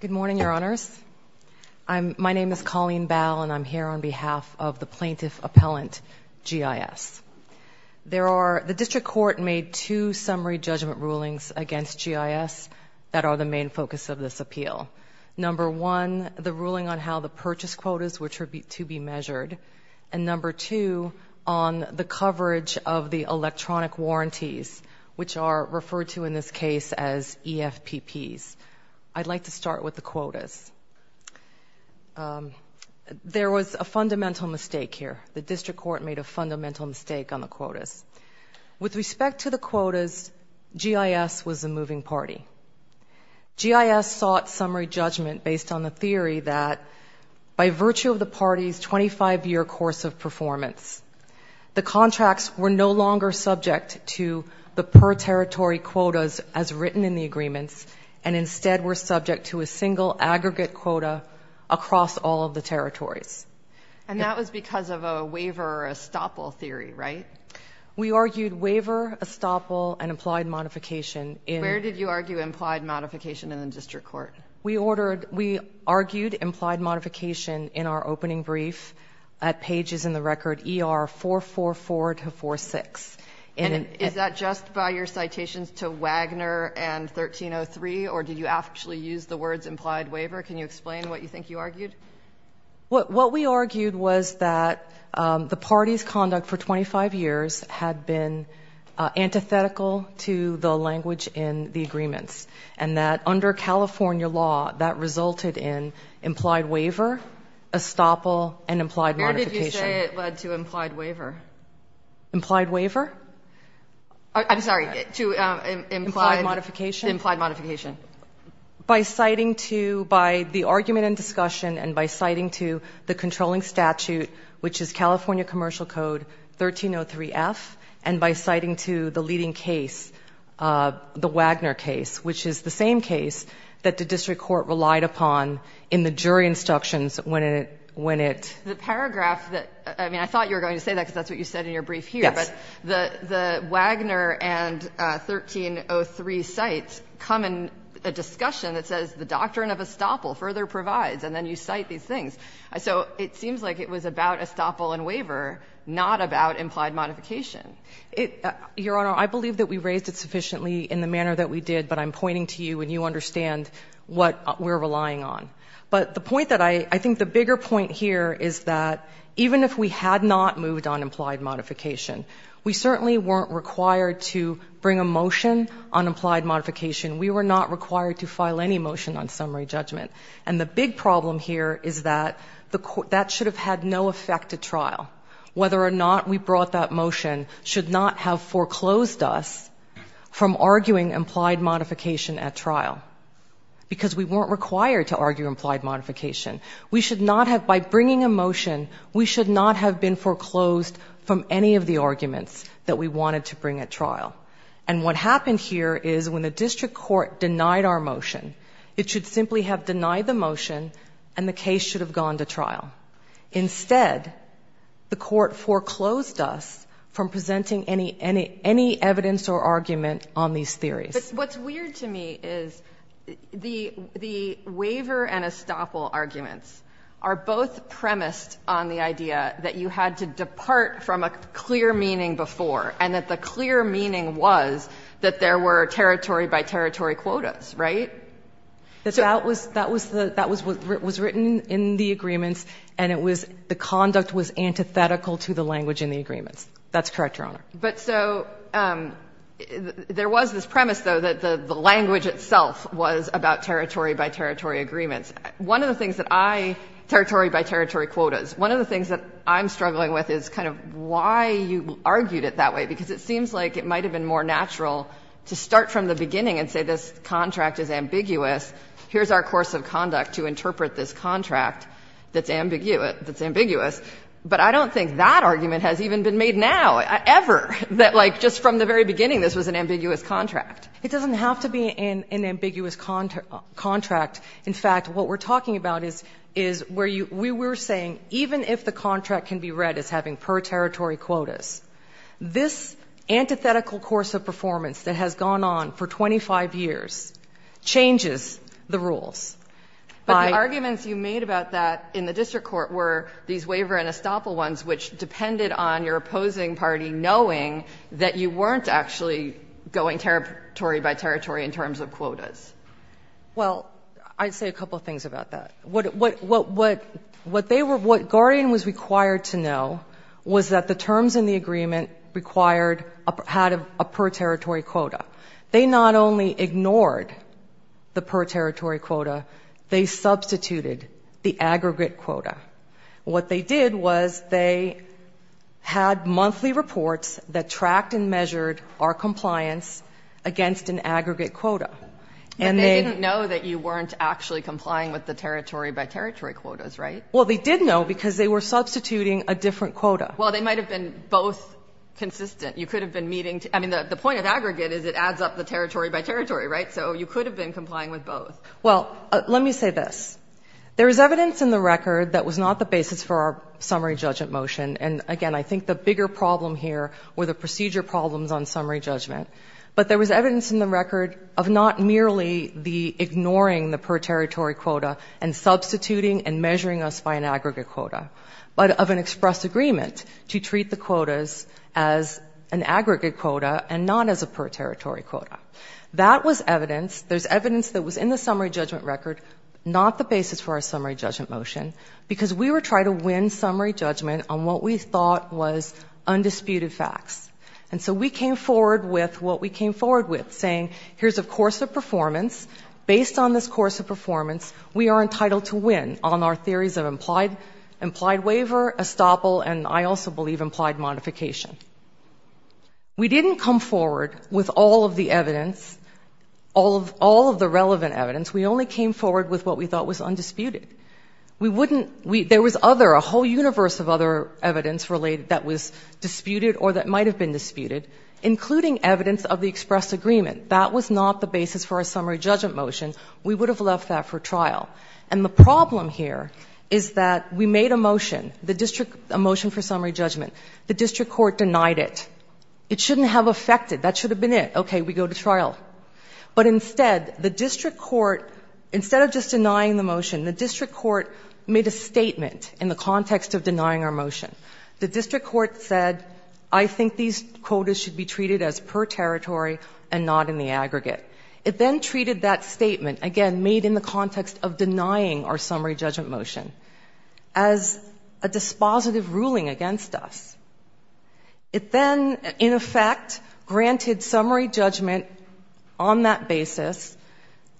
Good morning, Your Honors. My name is Colleen Bow, and I'm here on behalf of the Plaintiff Appellant, GIS. The District Court made two summary judgment rulings against GIS that are the main focus of this appeal. Number one, the ruling on how the purchase quotas were to be measured, and number two, on the coverage of the electronic warranties, which are referred to in this case as EFPPs. I'd like to start with the quotas. There was a fundamental mistake here. The District Court made a fundamental mistake on the quotas. With respect to the quotas, GIS was a moving party. GIS sought summary judgment based on the theory that, by virtue of the party's 25-year course of performance, the contracts were no longer subject to the per-territory quotas as written in the agreements, and instead were subject to a single aggregate quota across all of the territories. And that was because of a waiver or estoppel theory, right? We argued waiver, estoppel, and implied modification in... Where did you argue implied modification in the District Court? We argued implied modification in our opening brief at pages in the record ER444 to 46. Is that just by your citations to Wagner and 1303, or did you actually use the words implied waiver? Can you explain what you think you argued? What we argued was that the party's conduct for 25 years had been antithetical to the agreements, and that under California law, that resulted in implied waiver, estoppel, and implied modification. Where did you say it led to implied waiver? Implied waiver? I'm sorry, to implied modification? Implied modification. By citing to, by the argument and discussion, and by citing to the controlling statute, which is California Commercial Code 1303F, and by citing to the leading case, the Wagner case, which is the same case that the District Court relied upon in the jury instructions when it... The paragraph that... I mean, I thought you were going to say that because that's what you said in your brief here. Yes. But the Wagner and 1303 cites come in a discussion that says the doctrine of estoppel further provides, and then you cite these things. So it seems like it was about estoppel and waiver, not about implied modification. Your Honor, I believe that we raised it sufficiently in the manner that we did, but I'm pointing to you, and you understand what we're relying on. But the point that I, I think the bigger point here is that even if we had not moved on implied modification, we certainly weren't required to bring a motion on implied modification. We were not required to file any motion on summary judgment. And the big problem here is that that should have had no effect at trial. Whether or not we brought that motion should not have foreclosed us from arguing implied modification at trial, because we weren't required to argue implied modification. We should not have, by bringing a motion, we should not have been foreclosed from any of the arguments that we wanted to bring at trial. And what happened here is when the District Court denied our motion, it should simply have denied the motion, and the case should have gone to trial. Instead, the Court foreclosed us from presenting any, any, any evidence or argument on these theories. But what's weird to me is the, the waiver and estoppel arguments are both premised on the idea that you had to depart from a clear meaning before, and that the clear meaning was that there were territory-by-territory quotas, right? So that was, that was the, that was what was written in the agreements, and it was the conduct was antithetical to the language in the agreements. That's correct, Your Honor. But so there was this premise, though, that the language itself was about territory-by-territory agreements. One of the things that I, territory-by-territory quotas, one of the things that I'm struggling with is kind of why you argued it that way, because it seems like it might have been more natural to start from the beginning and say this contract is ambiguous. Here's our course of conduct to interpret this contract that's ambiguous, but I don't think that argument has even been made now, ever, that like just from the very beginning this was an ambiguous contract. It doesn't have to be an, an ambiguous contract. In fact, what we're talking about is, is where you, we were saying even if the contract can be read as having per-territory quotas, this antithetical course of performance that has gone on for 25 years changes the rules. But the arguments you made about that in the district court were these waiver and estoppel ones which depended on your opposing party knowing that you weren't actually going territory-by-territory in terms of quotas. Well, I'd say a couple of things about that. What, what, what, what, what they were, what Guardian was required to know was that the terms in the agreement required, had a per-territory quota. They not only ignored the per-territory quota, they substituted the aggregate quota. What they did was they had monthly reports that tracked and measured our compliance against an aggregate quota. And they didn't know that you weren't actually complying with the territory-by-territory quotas, right? Well, they did know because they were substituting a different quota. Well, they might have been both consistent. You could have been meeting, I mean, the, the point of aggregate is it adds up the territory-by-territory, right? So you could have been complying with both. Well, let me say this. There is evidence in the record that was not the basis for our summary judgment motion, and again, I think the bigger problem here were the procedure problems on summary judgment. But there was evidence in the record of not merely the ignoring the per-territory quota and substituting and measuring us by an aggregate quota, but of an express agreement to treat the quotas as an aggregate quota and not as a per-territory quota. That was evidence. There's evidence that was in the summary judgment record, not the basis for our summary judgment motion, because we were trying to win summary judgment on what we thought was undisputed facts. And so we came forward with what we came forward with, saying, here's a course of performance. Based on this course of performance, we are entitled to win on our theories of implied, implied waiver, estoppel, and I also believe implied modification. We didn't come forward with all of the evidence, all of, all of the relevant evidence. We only came forward with what we thought was undisputed. We wouldn't, we, there was other, a whole universe of other evidence related that was disputed or that might have been disputed, including evidence of the express agreement. That was not the basis for our summary judgment motion. We would have left that for trial. And the problem here is that we made a motion, the district, a motion for summary judgment. The district court denied it. It shouldn't have affected, that should have been it. Okay, we go to trial. But instead, the district court, instead of just denying the motion, the district court made a statement in the context of denying our motion. The district court said, I think these quotas should be treated as per territory and not in the aggregate. It then treated that statement, again, made in the context of denying our summary judgment motion, as a dispositive ruling against us. It then, in effect, granted summary judgment on that basis,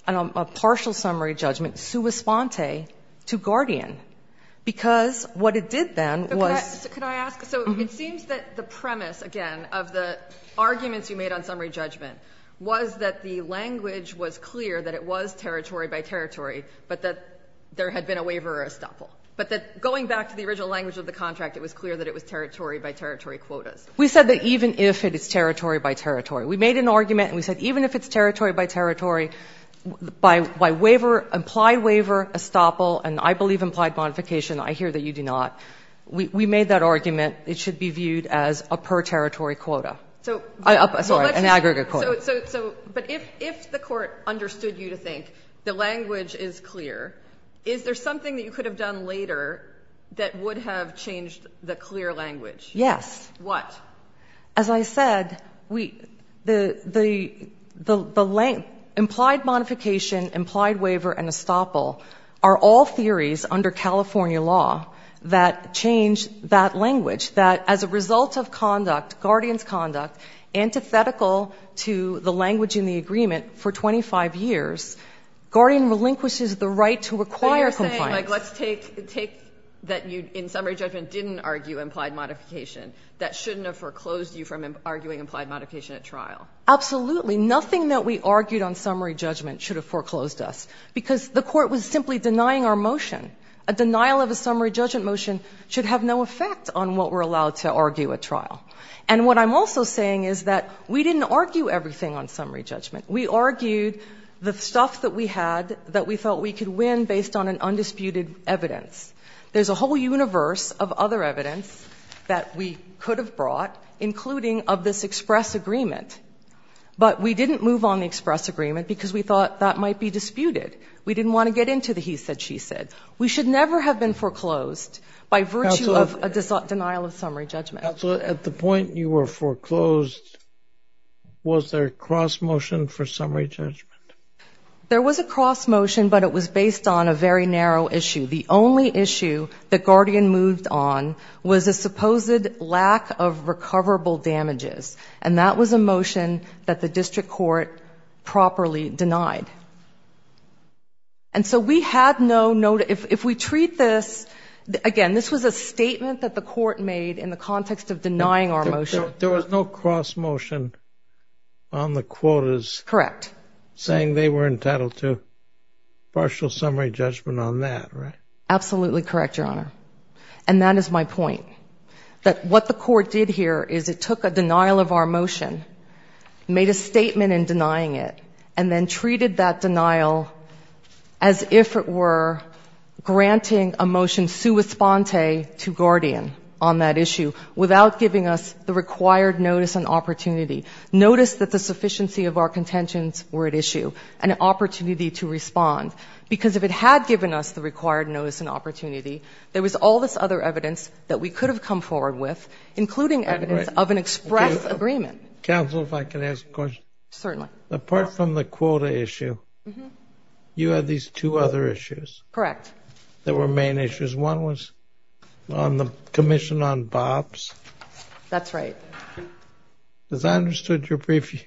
a partial summary judgment, sua sponte, to Guardian. Because what it did then was- Can I ask, so it seems that the premise, again, of the arguments you made on summary judgment, was that the language was clear that it was territory by territory, but that there had been a waiver or estoppel. But that going back to the original language of the contract, it was clear that it was territory by territory quotas. We said that even if it is territory by territory, we made an argument and we said even if it's territory by territory, by waiver, implied waiver, estoppel, and I believe implied modification, I hear that you do not. We made that argument, it should be viewed as a per territory quota. Sorry, an aggregate quota. But if the court understood you to think the language is clear, is there something that you could have done later that would have changed the clear language? Yes. What? As I said, implied modification, implied waiver, and estoppel are all theories under California law that change that language, that as a result of conduct, guardian's conduct, antithetical to the language in the agreement for 25 years, guardian relinquishes the right to require compliance. But you're saying, let's take that you, in summary judgment, didn't argue implied modification. That shouldn't have foreclosed you from arguing implied modification at trial. Absolutely, nothing that we argued on summary judgment should have foreclosed us, because the court was simply denying our motion. A denial of a summary judgment motion should have no effect on what we're allowed to argue at trial. And what I'm also saying is that we didn't argue everything on summary judgment. We argued the stuff that we had that we thought we could win based on an undisputed evidence. There's a whole universe of other evidence that we could have brought, including of this express agreement. But we didn't move on the express agreement because we thought that might be disputed. We didn't want to get into the he said, she said. We should never have been foreclosed by virtue of a denial of summary judgment. Counselor, at the point you were foreclosed, was there a cross motion for summary judgment? There was a cross motion, but it was based on a very narrow issue. The only issue that Guardian moved on was a supposed lack of recoverable damages. And that was a motion that the district court properly denied. And so we had no, if we treat this, again, this was a statement that the court made in the context of denying our motion. There was no cross motion on the quotas. Correct. Saying they were entitled to partial summary judgment on that, right? Absolutely correct, your honor. And that is my point. That what the court did here is it took a denial of our motion, made a statement in denying it, and then treated that denial as if it were granting a motion sua sponte to Guardian on that issue. Without giving us the required notice and opportunity. Notice that the sufficiency of our contentions were at issue. An opportunity to respond. Because if it had given us the required notice and opportunity, there was all this other evidence that we could have come forward with, including evidence of an express agreement. Counsel, if I can ask a question. Certainly. Apart from the quota issue, you had these two other issues. Correct. That were main issues. One was on the commission on BOPS. That's right. As I understood your brief,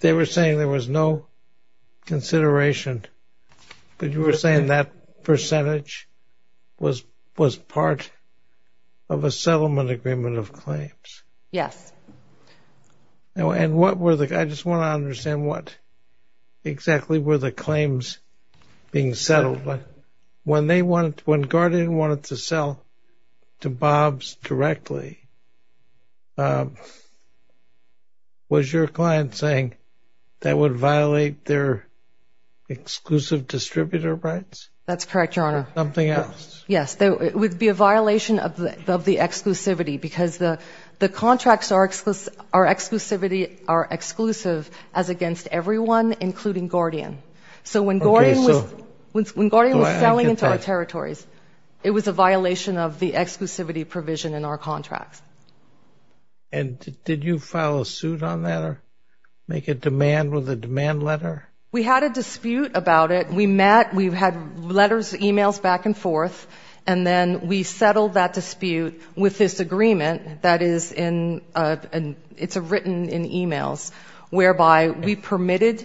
they were saying there was no consideration, but you were saying that percentage was part of a settlement agreement of claims. Yes. And what were the, I just want to understand what exactly were the claims being settled. When they wanted, when Guardian wanted to sell to BOPS directly, was your client saying that would violate their exclusive distributor rights? That's correct, Your Honor. Something else. Yes. It would be a violation of the exclusivity because the contracts are exclusive, our exclusivity are exclusive as against everyone, including Guardian. So when Guardian was selling into our territories, it was a violation of the contracts. And did you file a suit on that or make a demand with a demand letter? We had a dispute about it. We met, we've had letters, emails back and forth, and then we settled that dispute with this agreement that is in, it's written in emails, whereby we permitted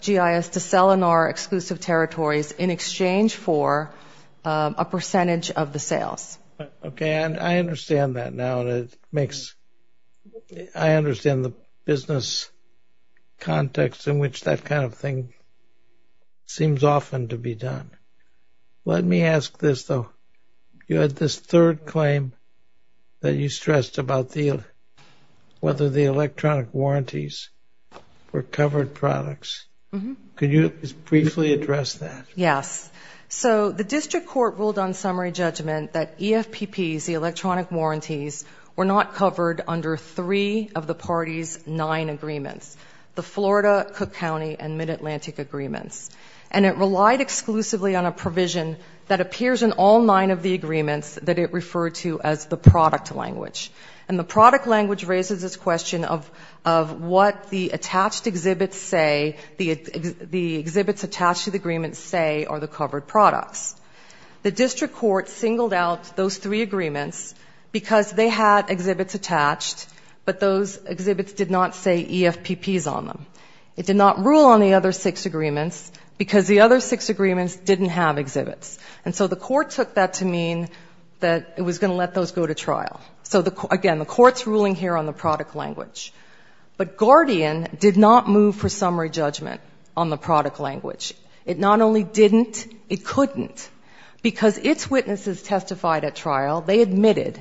GIS to sell in our exclusive territories in exchange for a percentage of the sales. Okay, and I understand that now and it makes, I understand the business context in which that kind of thing seems often to be done. Let me ask this though. You had this third claim that you stressed about the, whether the electronic warranties were covered products. Could you just briefly address that? Yes. So the district court ruled on summary judgment that EFPPs, the electronic warranties, were not covered under three of the party's nine agreements, the Florida, Cook County, and Mid-Atlantic agreements. And it relied exclusively on a provision that appears in all nine of the agreements that it referred to as the product language. And the product language raises this question of what the attached exhibits say, the exhibits attached to the agreements say are the covered products. The district court singled out those three agreements because they had exhibits attached, but those exhibits did not say EFPPs on them. It did not rule on the other six agreements because the other six agreements didn't have exhibits. And so the court took that to mean that it was going to let those go to trial. So again, the court's ruling here on the product language. But Guardian did not move for summary judgment on the product language. It not only didn't, it couldn't. Because its witnesses testified at trial, they admitted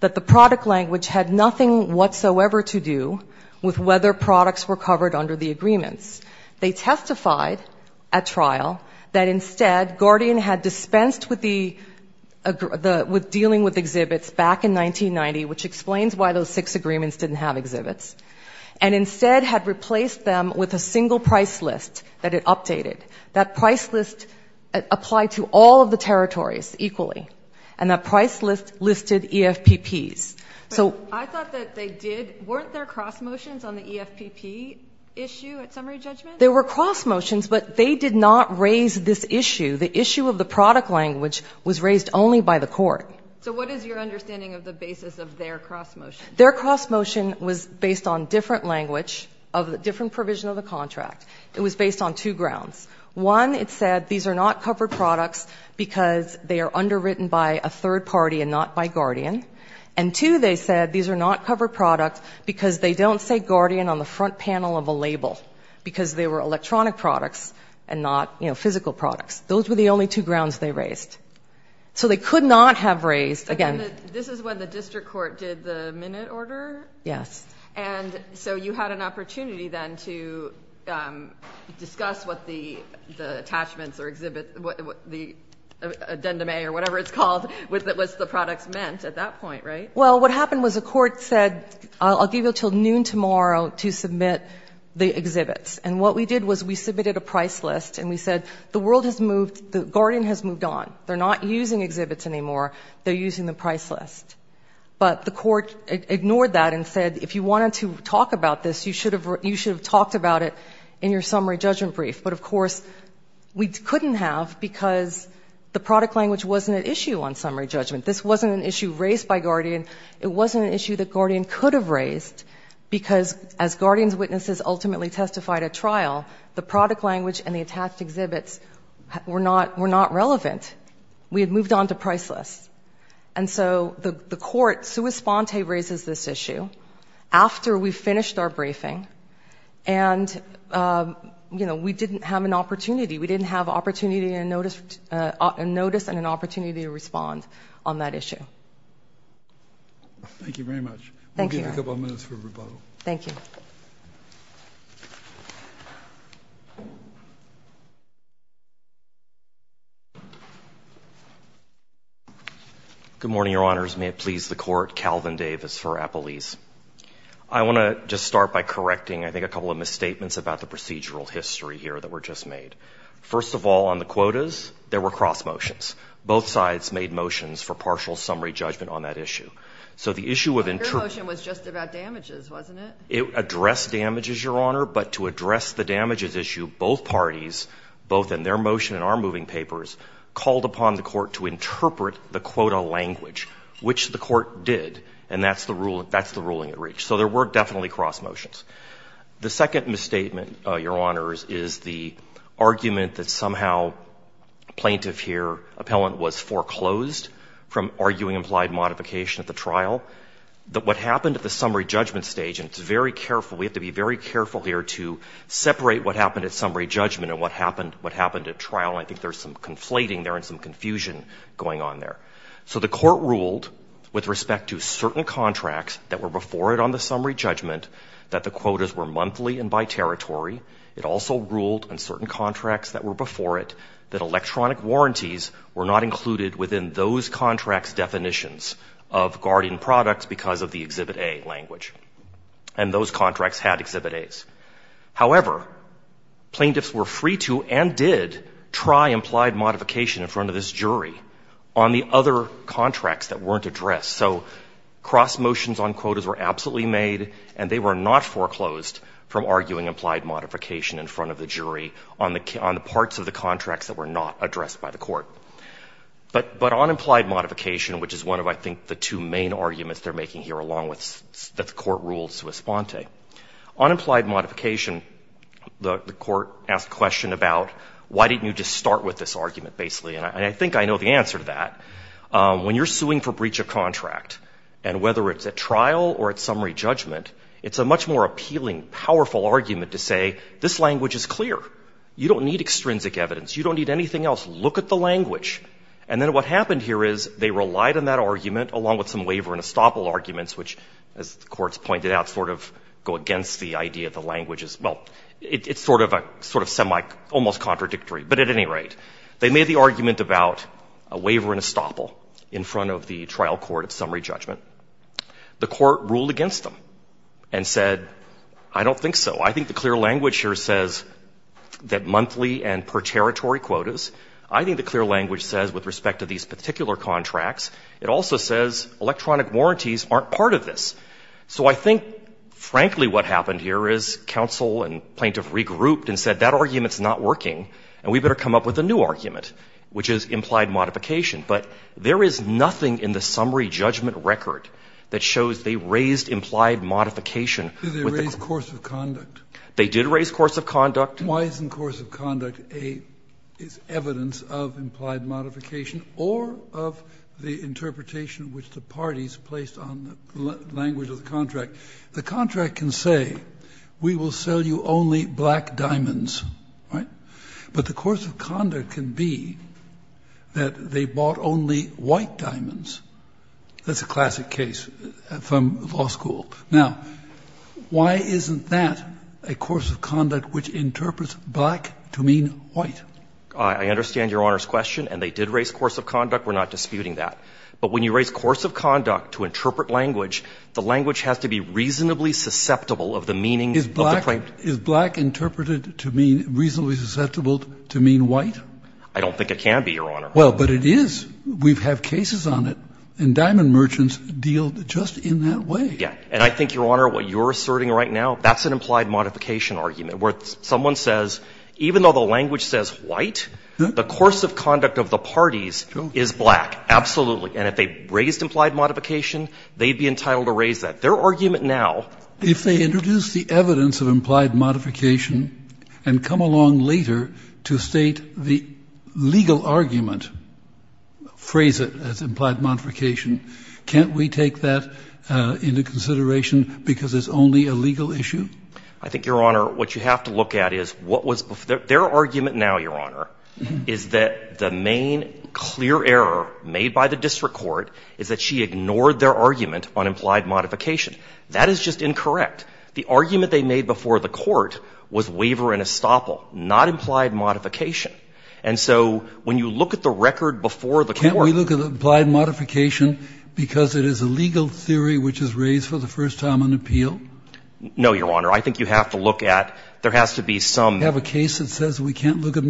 that the product language had nothing whatsoever to do with whether products were covered under the agreements. They testified at trial that instead, Guardian had dispensed with dealing with exhibits back in 1990, which explains why those six agreements didn't have exhibits. And instead had replaced them with a single price list that it updated. That price list applied to all of the territories equally. And that price list listed EFPPs. So I thought that they did, weren't there cross motions on the EFPP issue at summary judgment? There were cross motions, but they did not raise this issue. The issue of the product language was raised only by the court. So what is your understanding of the basis of their cross motion? Their cross motion was based on different language of the different provision of the contract. It was based on two grounds. One, it said these are not covered products because they are underwritten by a third party and not by Guardian. And two, they said these are not covered products because they don't say Guardian on the front panel of a label. Because they were electronic products and not physical products. Those were the only two grounds they raised. So they could not have raised, again- Yes. And so you had an opportunity then to discuss what the attachments or exhibit, the addendum or whatever it's called, what the products meant at that point, right? Well, what happened was the court said, I'll give you until noon tomorrow to submit the exhibits. And what we did was we submitted a price list and we said, the world has moved, the Guardian has moved on. They're not using exhibits anymore, they're using the price list. But the court ignored that and said, if you wanted to talk about this, you should have talked about it in your summary judgment brief. But of course, we couldn't have because the product language wasn't an issue on summary judgment. This wasn't an issue raised by Guardian. It wasn't an issue that Guardian could have raised. Because as Guardian's witnesses ultimately testified at trial, the product language and the attached exhibits were not relevant. We had moved on to price list. And so the court sui sponte raises this issue after we finished our briefing. And we didn't have an opportunity. We didn't have a notice and an opportunity to respond on that issue. Thank you very much. Thank you. We'll give you a couple of minutes for rebuttal. Thank you. Good morning, your honors. May it please the court, Calvin Davis for Appalese. I wanna just start by correcting, I think, a couple of misstatements about the procedural history here that were just made. First of all, on the quotas, there were cross motions. Both sides made motions for partial summary judgment on that issue. So the issue of- Your motion was just about damages, wasn't it? It addressed damages, your honor. But to address the damages issue, both parties, both in their motion and in their motion, they had to interpret the quota language, which the court did. And that's the ruling at reach. So there were definitely cross motions. The second misstatement, your honors, is the argument that somehow plaintiff here, appellant, was foreclosed from arguing implied modification at the trial. That what happened at the summary judgment stage, and it's very careful, we have to be very careful here to separate what happened at summary judgment and what happened at trial. I think there's some conflating there and some confusion going on there. So the court ruled with respect to certain contracts that were before it on the summary judgment that the quotas were monthly and by territory. It also ruled on certain contracts that were before it that electronic warranties were not included within those contracts definitions of guardian products because of the exhibit A language, and those contracts had exhibit A's. However, plaintiffs were free to and did try implied modification in front of this jury on the other contracts that weren't addressed. So cross motions on quotas were absolutely made, and they were not foreclosed from arguing implied modification in front of the jury on the parts of the contracts that were not addressed by the court. But on implied modification, which is one of, I think, the two main arguments they're making here along with that the court ruled sui sponte. On implied modification, the court asked a question about why didn't you just start with this argument, basically, and I think I know the answer to that. When you're suing for breach of contract, and whether it's at trial or at summary judgment, it's a much more appealing, powerful argument to say, this language is clear. You don't need extrinsic evidence. You don't need anything else. Look at the language. And then what happened here is they relied on that argument along with some waiver and go against the idea the language is, well, it's sort of semi, almost contradictory. But at any rate, they made the argument about a waiver and a stopple in front of the trial court of summary judgment. The court ruled against them and said, I don't think so. I think the clear language here says that monthly and per territory quotas. I think the clear language says, with respect to these particular contracts, it also says electronic warranties aren't part of this. So I think, frankly, what happened here is counsel and plaintiff regrouped and said, that argument's not working, and we better come up with a new argument, which is implied modification. But there is nothing in the summary judgment record that shows they raised implied modification. Did they raise course of conduct? They did raise course of conduct. Why isn't course of conduct evidence of implied modification or of the interpretation which the parties placed on the language of the contract? The contract can say, we will sell you only black diamonds, right? But the course of conduct can be that they bought only white diamonds. That's a classic case from law school. Now, why isn't that a course of conduct which interprets black to mean white? I understand Your Honor's question, and they did raise course of conduct. We're not disputing that. But when you raise course of conduct to interpret language, the language has to be reasonably susceptible of the meaning of the claim. Is black interpreted to mean reasonably susceptible to mean white? I don't think it can be, Your Honor. Well, but it is. We've had cases on it, and diamond merchants deal just in that way. Yeah, and I think, Your Honor, what you're asserting right now, that's an implied modification argument, where someone says, even though the language says white, the course of conduct of the parties is black. Absolutely. And if they raised implied modification, they'd be entitled to raise that. Their argument now- If they introduce the evidence of implied modification and come along later to state the legal argument, phrase it as implied modification, can't we take that into consideration because it's only a legal issue? I think, Your Honor, what you have to look at is what was their argument now, Your Honor, is that the main clear error made by the district court is that she ignored their argument on implied modification. That is just incorrect. The argument they made before the court was waiver and estoppel, not implied modification. And so, when you look at the record before the court- Can't we look at the implied modification because it is a legal theory which is raised for the first time on appeal? No, Your Honor. I think you have to look at, there has to be some- Do you have a case that says we can't look at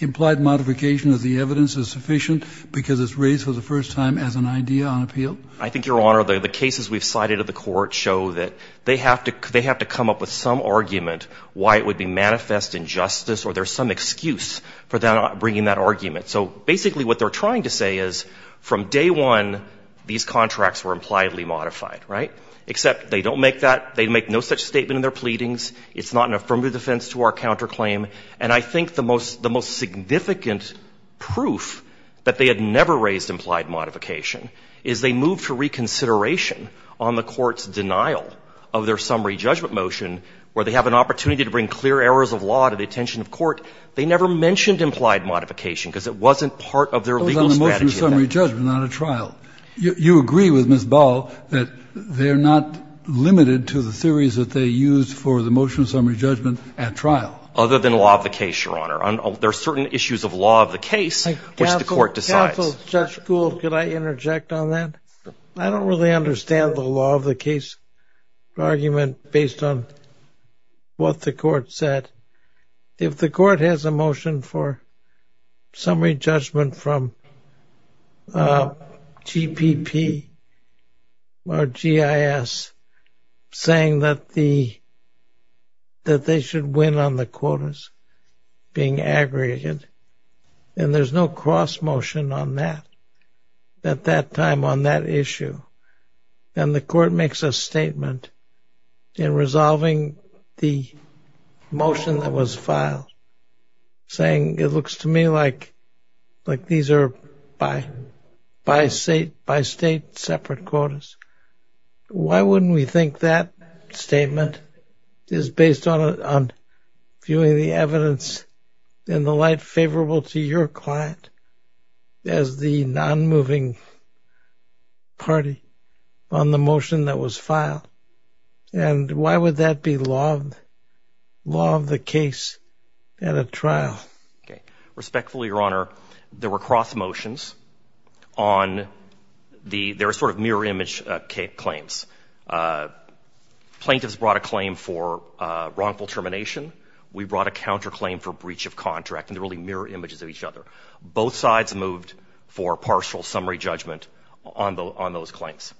implied modification as the evidence is sufficient because it's raised for the first time as an idea on appeal? I think, Your Honor, the cases we've cited at the court show that they have to come up with some argument why it would be manifest injustice or there's some excuse for bringing that argument. So, basically, what they're trying to say is, from day one, these contracts were impliedly modified, right? Except they don't make that. They make no such statement in their pleadings. It's not an affirmative defense to our counterclaim. And I think the most significant proof that they had never raised implied modification is they moved to reconsideration on the court's denial of their summary judgment motion, where they have an opportunity to bring clear errors of law to the attention of court. They never mentioned implied modification because it wasn't part of their legal strategy. It was on a motion of summary judgment, not a trial. You agree with Ms. Ball that they're not limited to the theories that they used for the motion of summary judgment at trial? Other than law of the case, Your Honor. There are certain issues of law of the case which the court decides. Counsel, Judge Gould, could I interject on that? I don't really understand the law of the case argument based on what the court said. If the court has a motion for summary judgment from GPP or GIS saying that they should win on the quotas being aggregated, and there's no cross motion on that at that time on that issue, then the court makes a statement in resolving the motion that was filed saying, it looks to me like these are by state separate quotas, why wouldn't we think that statement is based on viewing the evidence in the light favorable to your client as the non-moving party on the motion that was filed, and why would that be law of the case at a trial? Okay. Respectfully, Your Honor, there were cross motions on the, there were sort of mirror image claims. Plaintiffs brought a claim for wrongful termination, we brought a counter claim for breach of contract, and they're really mirror images of each other. Both sides moved for partial summary judgment on those claims.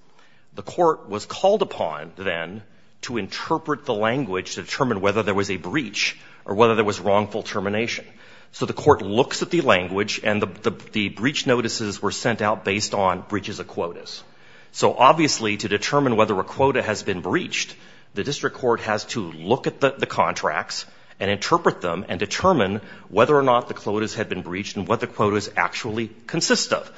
The court was called upon then to interpret the language to determine whether there was a breach or whether there was wrongful termination. So the court looks at the language, and the breach notices were sent out based on breaches of quotas. So obviously to determine whether a quota has been breached, the district court has to look at the contracts and interpret them and determine whether or not the quotas had been breached and what the quotas actually consist of.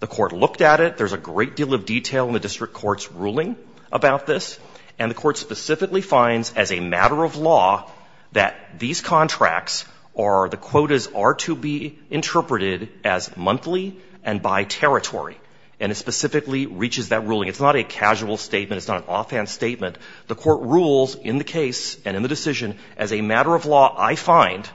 The court looked at it. There's a great deal of detail in the district court's ruling about this. And the court specifically finds as a matter of law that these contracts are, the quotas are to be interpreted as monthly and by territory. And it specifically reaches that ruling. It's not a casual statement. It's not an offhand statement. The court rules in the case and in the decision as a matter of law, I find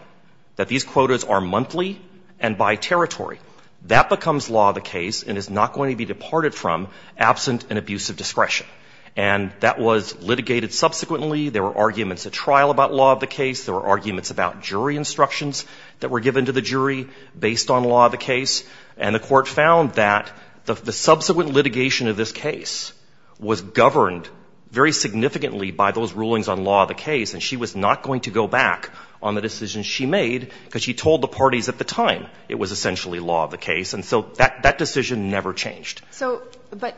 that these quotas are monthly and by territory. That becomes law of the case and is not going to be departed from absent and abusive discretion. And that was litigated subsequently. There were arguments at trial about law of the case. There were arguments about jury instructions that were given to the jury based on law of the case. And the court found that the subsequent litigation of this case was governed very significantly by those rulings on law of the case. And she was not going to go back on the decision she made because she told the parties at the time it was essentially law of the case. And so that decision never changed. So, but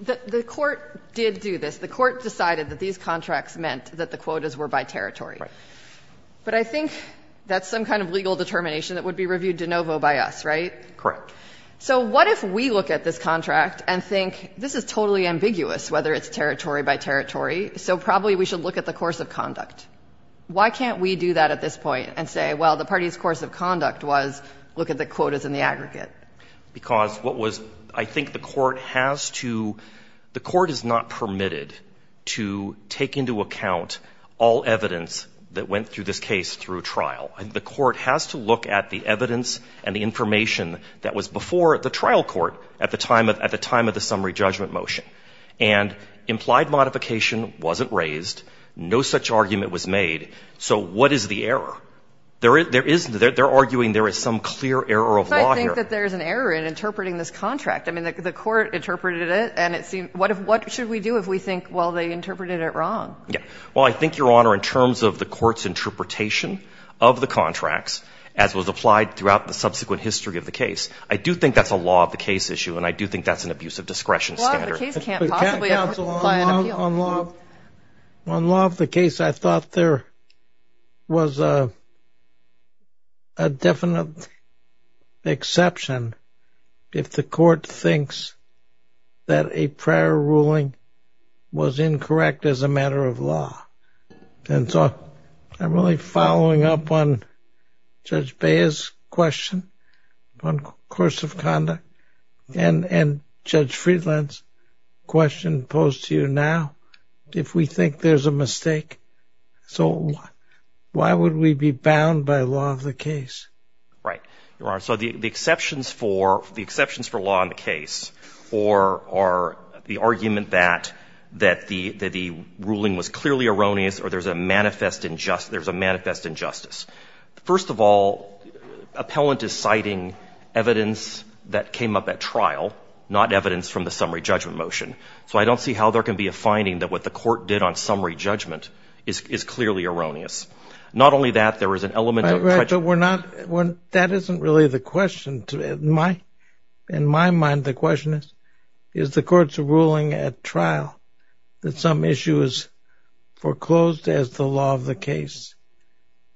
the court did do this. The court decided that these contracts meant that the quotas were by territory. Right. But I think that's some kind of legal determination that would be reviewed de novo by us, right? Correct. So what if we look at this contract and think this is totally ambiguous, whether it's territory by territory. So probably we should look at the course of conduct. Why can't we do that at this point and say, well, the party's course of conduct was look at the quotas and the aggregate? Because what was, I think the court has to, the court is not permitted to take into account all evidence that went through this case through trial. The court has to look at the evidence and the information that was before the trial court at the time of the summary judgment motion. And implied modification wasn't raised. No such argument was made. So what is the error? There is, there is, they're arguing there is some clear error of law here. I think that there's an error in interpreting this contract. I mean, the court interpreted it and it seemed, what if, what should we do if we think, well, they interpreted it wrong? Yeah. Well, I think, Your Honor, in terms of the court's interpretation of the contracts, as was applied throughout the subsequent history of the case, I do think that's a law of the case issue. And I do think that's an abuse of discretion standard. The case can't possibly apply an appeal. On law of the case, I thought there was a definite exception if the court thinks that a prior ruling was incorrect as a matter of law. And so I'm really following up on Judge Bea's question on course of conduct. And Judge Friedland's question posed to you now, if we think there's a mistake, so why would we be bound by law of the case? Right, Your Honor. So the exceptions for law in the case are the argument that the ruling was clearly erroneous or there's a manifest injustice. First of all, appellant is citing evidence that came up at trial, not evidence from the summary judgment motion. So I don't see how there can be a finding that what the court did on summary judgment is clearly erroneous. Not only that, there is an element of prejudice. Right, but we're not, that isn't really the question. In my mind, the question is, is the court's ruling at trial that some issue is foreclosed as the law of the case?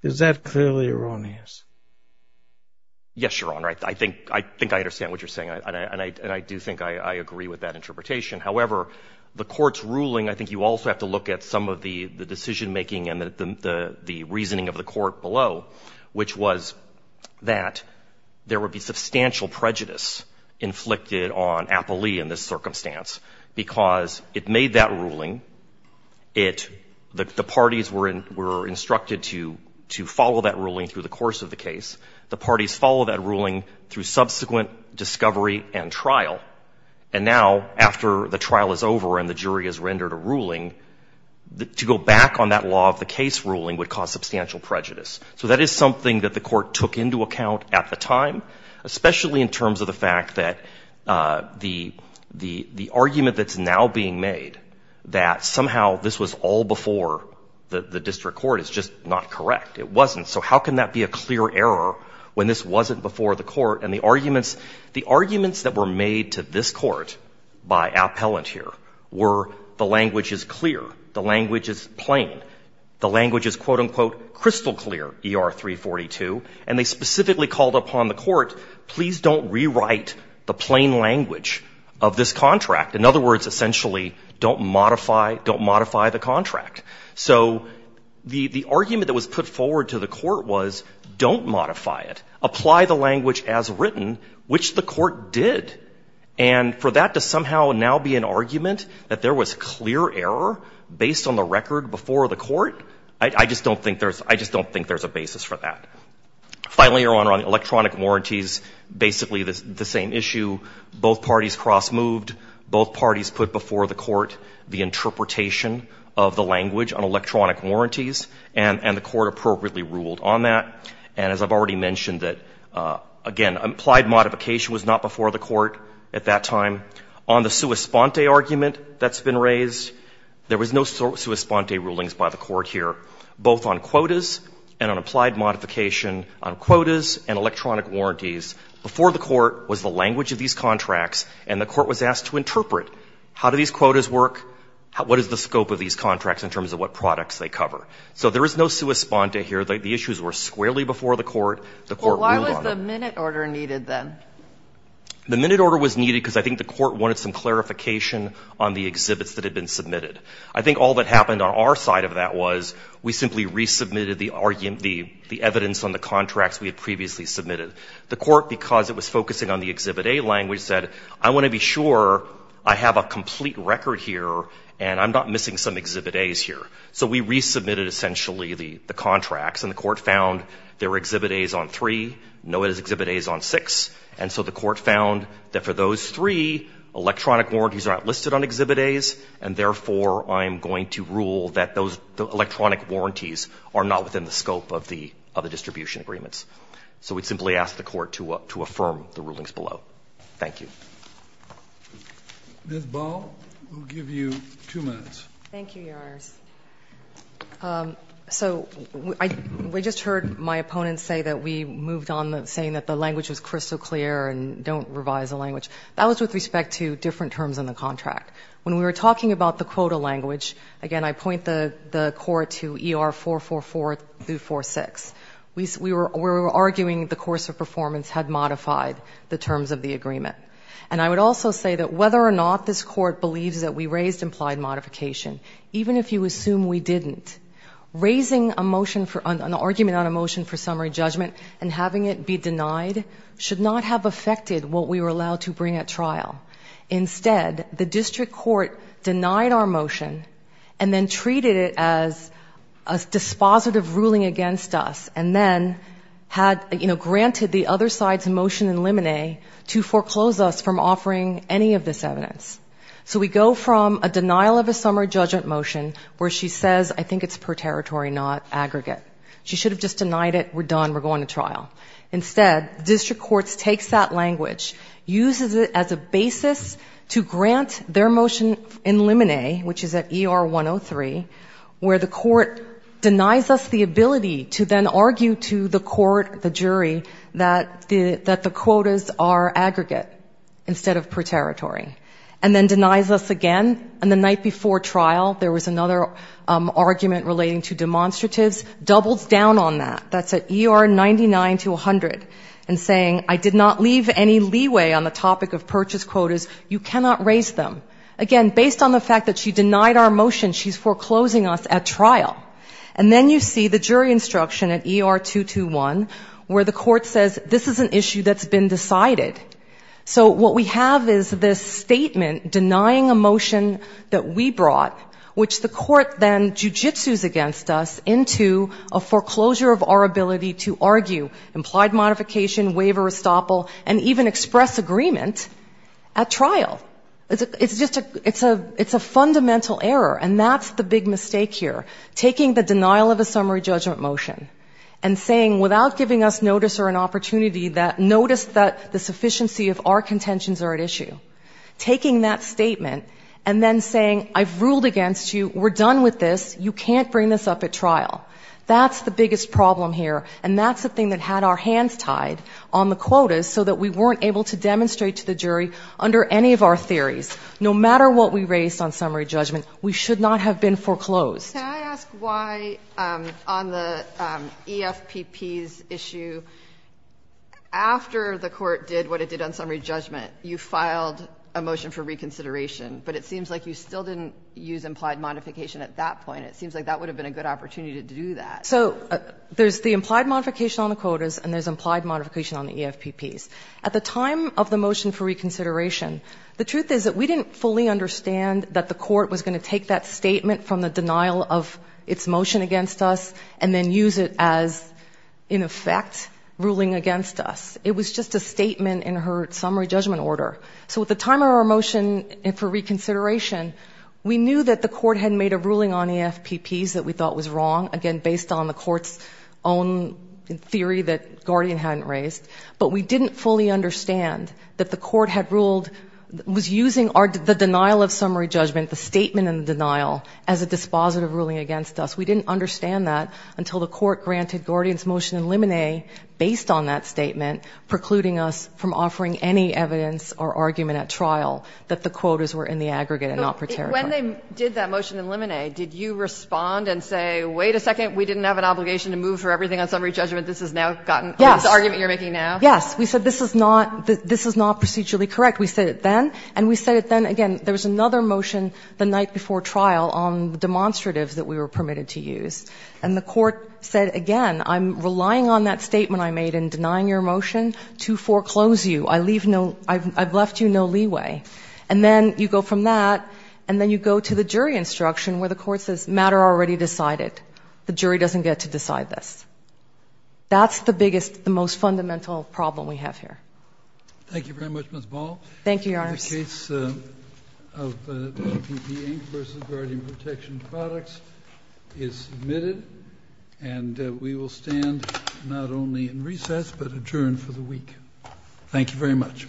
Is that clearly erroneous? Yes, Your Honor. I think I understand what you're saying, and I do think I agree with that interpretation. However, the court's ruling, I think you also have to look at some of the decision making and the reasoning of the court below, which was that there would be substantial prejudice inflicted on appellee in this circumstance because it made that ruling, it, the parties were instructed to follow that ruling through the course of the case. The parties follow that ruling through subsequent discovery and trial. And now, after the trial is over and the jury has rendered a ruling, to go back on that law of the case ruling would cause substantial prejudice. So that is something that the court took into account at the time, especially in terms of the fact that the argument that's now being made that somehow this was all before the district court is just not correct. It wasn't. So how can that be a clear error when this wasn't before the court? And the arguments, the arguments that were made to this court by appellant here were the language is clear. The language is plain. The language is, quote, unquote, crystal clear, ER 342. And they specifically called upon the court, please don't rewrite the plain language of this contract. In other words, essentially, don't modify, don't modify the contract. So the argument that was put forward to the court was don't modify it. Apply the language as written, which the court did. And for that to somehow now be an argument that there was clear error based on the record before the court, I just don't think there's, I don't think there's a basis for that. Finally, Your Honor, on electronic warranties, basically the same issue. Both parties cross moved. Both parties put before the court the interpretation of the language on electronic warranties, and the court appropriately ruled on that. And as I've already mentioned that, again, implied modification was not before the court at that time. On the sua sponte argument that's been raised, there was no sua sponte rulings by the court here, both on quotas and on applied modification on quotas and electronic warranties. Before the court was the language of these contracts, and the court was asked to interpret, how do these quotas work? What is the scope of these contracts in terms of what products they cover? So there is no sua sponte here. The issues were squarely before the court. The court ruled on it. But why was the minute order needed then? The minute order was needed because I think the court wanted some clarification on the exhibits that had been submitted. I think all that happened on our side of that was, we simply resubmitted the evidence on the contracts we had previously submitted. The court, because it was focusing on the Exhibit A language, said, I want to be sure I have a complete record here, and I'm not missing some Exhibit A's here. So we resubmitted, essentially, the contracts, and the court found there were Exhibit A's on three, no Exhibit A's on six. And so the court found that for those three, electronic warranties are not listed on Exhibit A's, and therefore, I'm going to rule that those electronic warranties are not within the scope of the distribution agreements. So we'd simply ask the court to affirm the rulings below. Thank you. Ms. Ball, we'll give you two minutes. Thank you, Your Honors. So we just heard my opponent say that we moved on, saying that the language was crystal clear and don't revise the language. That was with respect to different terms in the contract. When we were talking about the quota language, again, I point the court to ER444-46. We were arguing the course of performance had modified the terms of the agreement. And I would also say that whether or not this court believes that we raised implied modification, even if you assume we didn't, raising an argument on a motion for bringing at trial, instead, the district court denied our motion and then treated it as a dispositive ruling against us, and then had granted the other side's motion in limine to foreclose us from offering any of this evidence. So we go from a denial of a summary judgment motion, where she says, I think it's per territory, not aggregate. She should have just denied it, we're done, we're going to trial. Instead, district courts takes that language, uses it as a basis to grant their motion in limine, which is at ER 103, where the court denies us the ability to then argue to the court, the jury, that the quotas are aggregate instead of per territory. And then denies us again, and the night before trial, there was another argument relating to demonstratives, doubles down on that. That's at ER 99 to 100, and saying, I did not leave any leeway on the topic of purchase quotas, you cannot raise them. Again, based on the fact that she denied our motion, she's foreclosing us at trial. And then you see the jury instruction at ER 221, where the court says, this is an issue that's been decided. So what we have is this statement denying a motion that we brought, which the court then jujitsu's against us into a foreclosure of our ability to argue, implied modification, waiver, estoppel, and even express agreement at trial. It's a fundamental error, and that's the big mistake here. Taking the denial of a summary judgment motion and saying, without giving us notice or an opportunity, notice that the sufficiency of our contentions are at issue. Taking that statement and then saying, I've ruled against you, we're done with this, you can't bring this up at trial. That's the biggest problem here, and that's the thing that had our hands tied on the quotas so that we weren't able to demonstrate to the jury under any of our theories, no matter what we raised on summary judgment, we should not have been foreclosed. Can I ask why on the EFPP's issue, after the court did what it did on summary judgment, you filed a motion for reconsideration. But it seems like you still didn't use implied modification at that point. It seems like that would have been a good opportunity to do that. So there's the implied modification on the quotas, and there's implied modification on the EFPPs. At the time of the motion for reconsideration, the truth is that we didn't fully understand that the court was going to take that statement from the denial of its motion against us and then use it as, in effect, ruling against us. It was just a statement in her summary judgment order. So at the time of our motion for reconsideration, we knew that the court had made a ruling on EFPPs that we thought was wrong, again, based on the court's own theory that Guardian hadn't raised. But we didn't fully understand that the court had ruled, was using the denial of summary judgment, the statement in the denial, as a dispositive ruling against us. We didn't understand that until the court granted Guardian's motion in limine based on that statement, precluding us from offering any evidence or argument at trial that the quotas were in the aggregate and not preteritory. When they did that motion in limine, did you respond and say, wait a second, we didn't have an obligation to move for everything on summary judgment, this is now gotten, this argument you're making now? Yes, we said this is not procedurally correct. We said it then, and we said it then again. There was another motion the night before trial on demonstratives that we were permitted to use. And the court said, again, I'm relying on that statement I made in denying your motion to foreclose you. I've left you no leeway. And then you go from that, and then you go to the jury instruction where the court says, matter already decided. The jury doesn't get to decide this. That's the biggest, the most fundamental problem we have here. Thank you very much, Ms. Ball. Thank you, Your Honor. The case of PP Inc versus Guardian Protection Products is submitted. And we will stand not only in recess, but adjourn for the week. Thank you very much.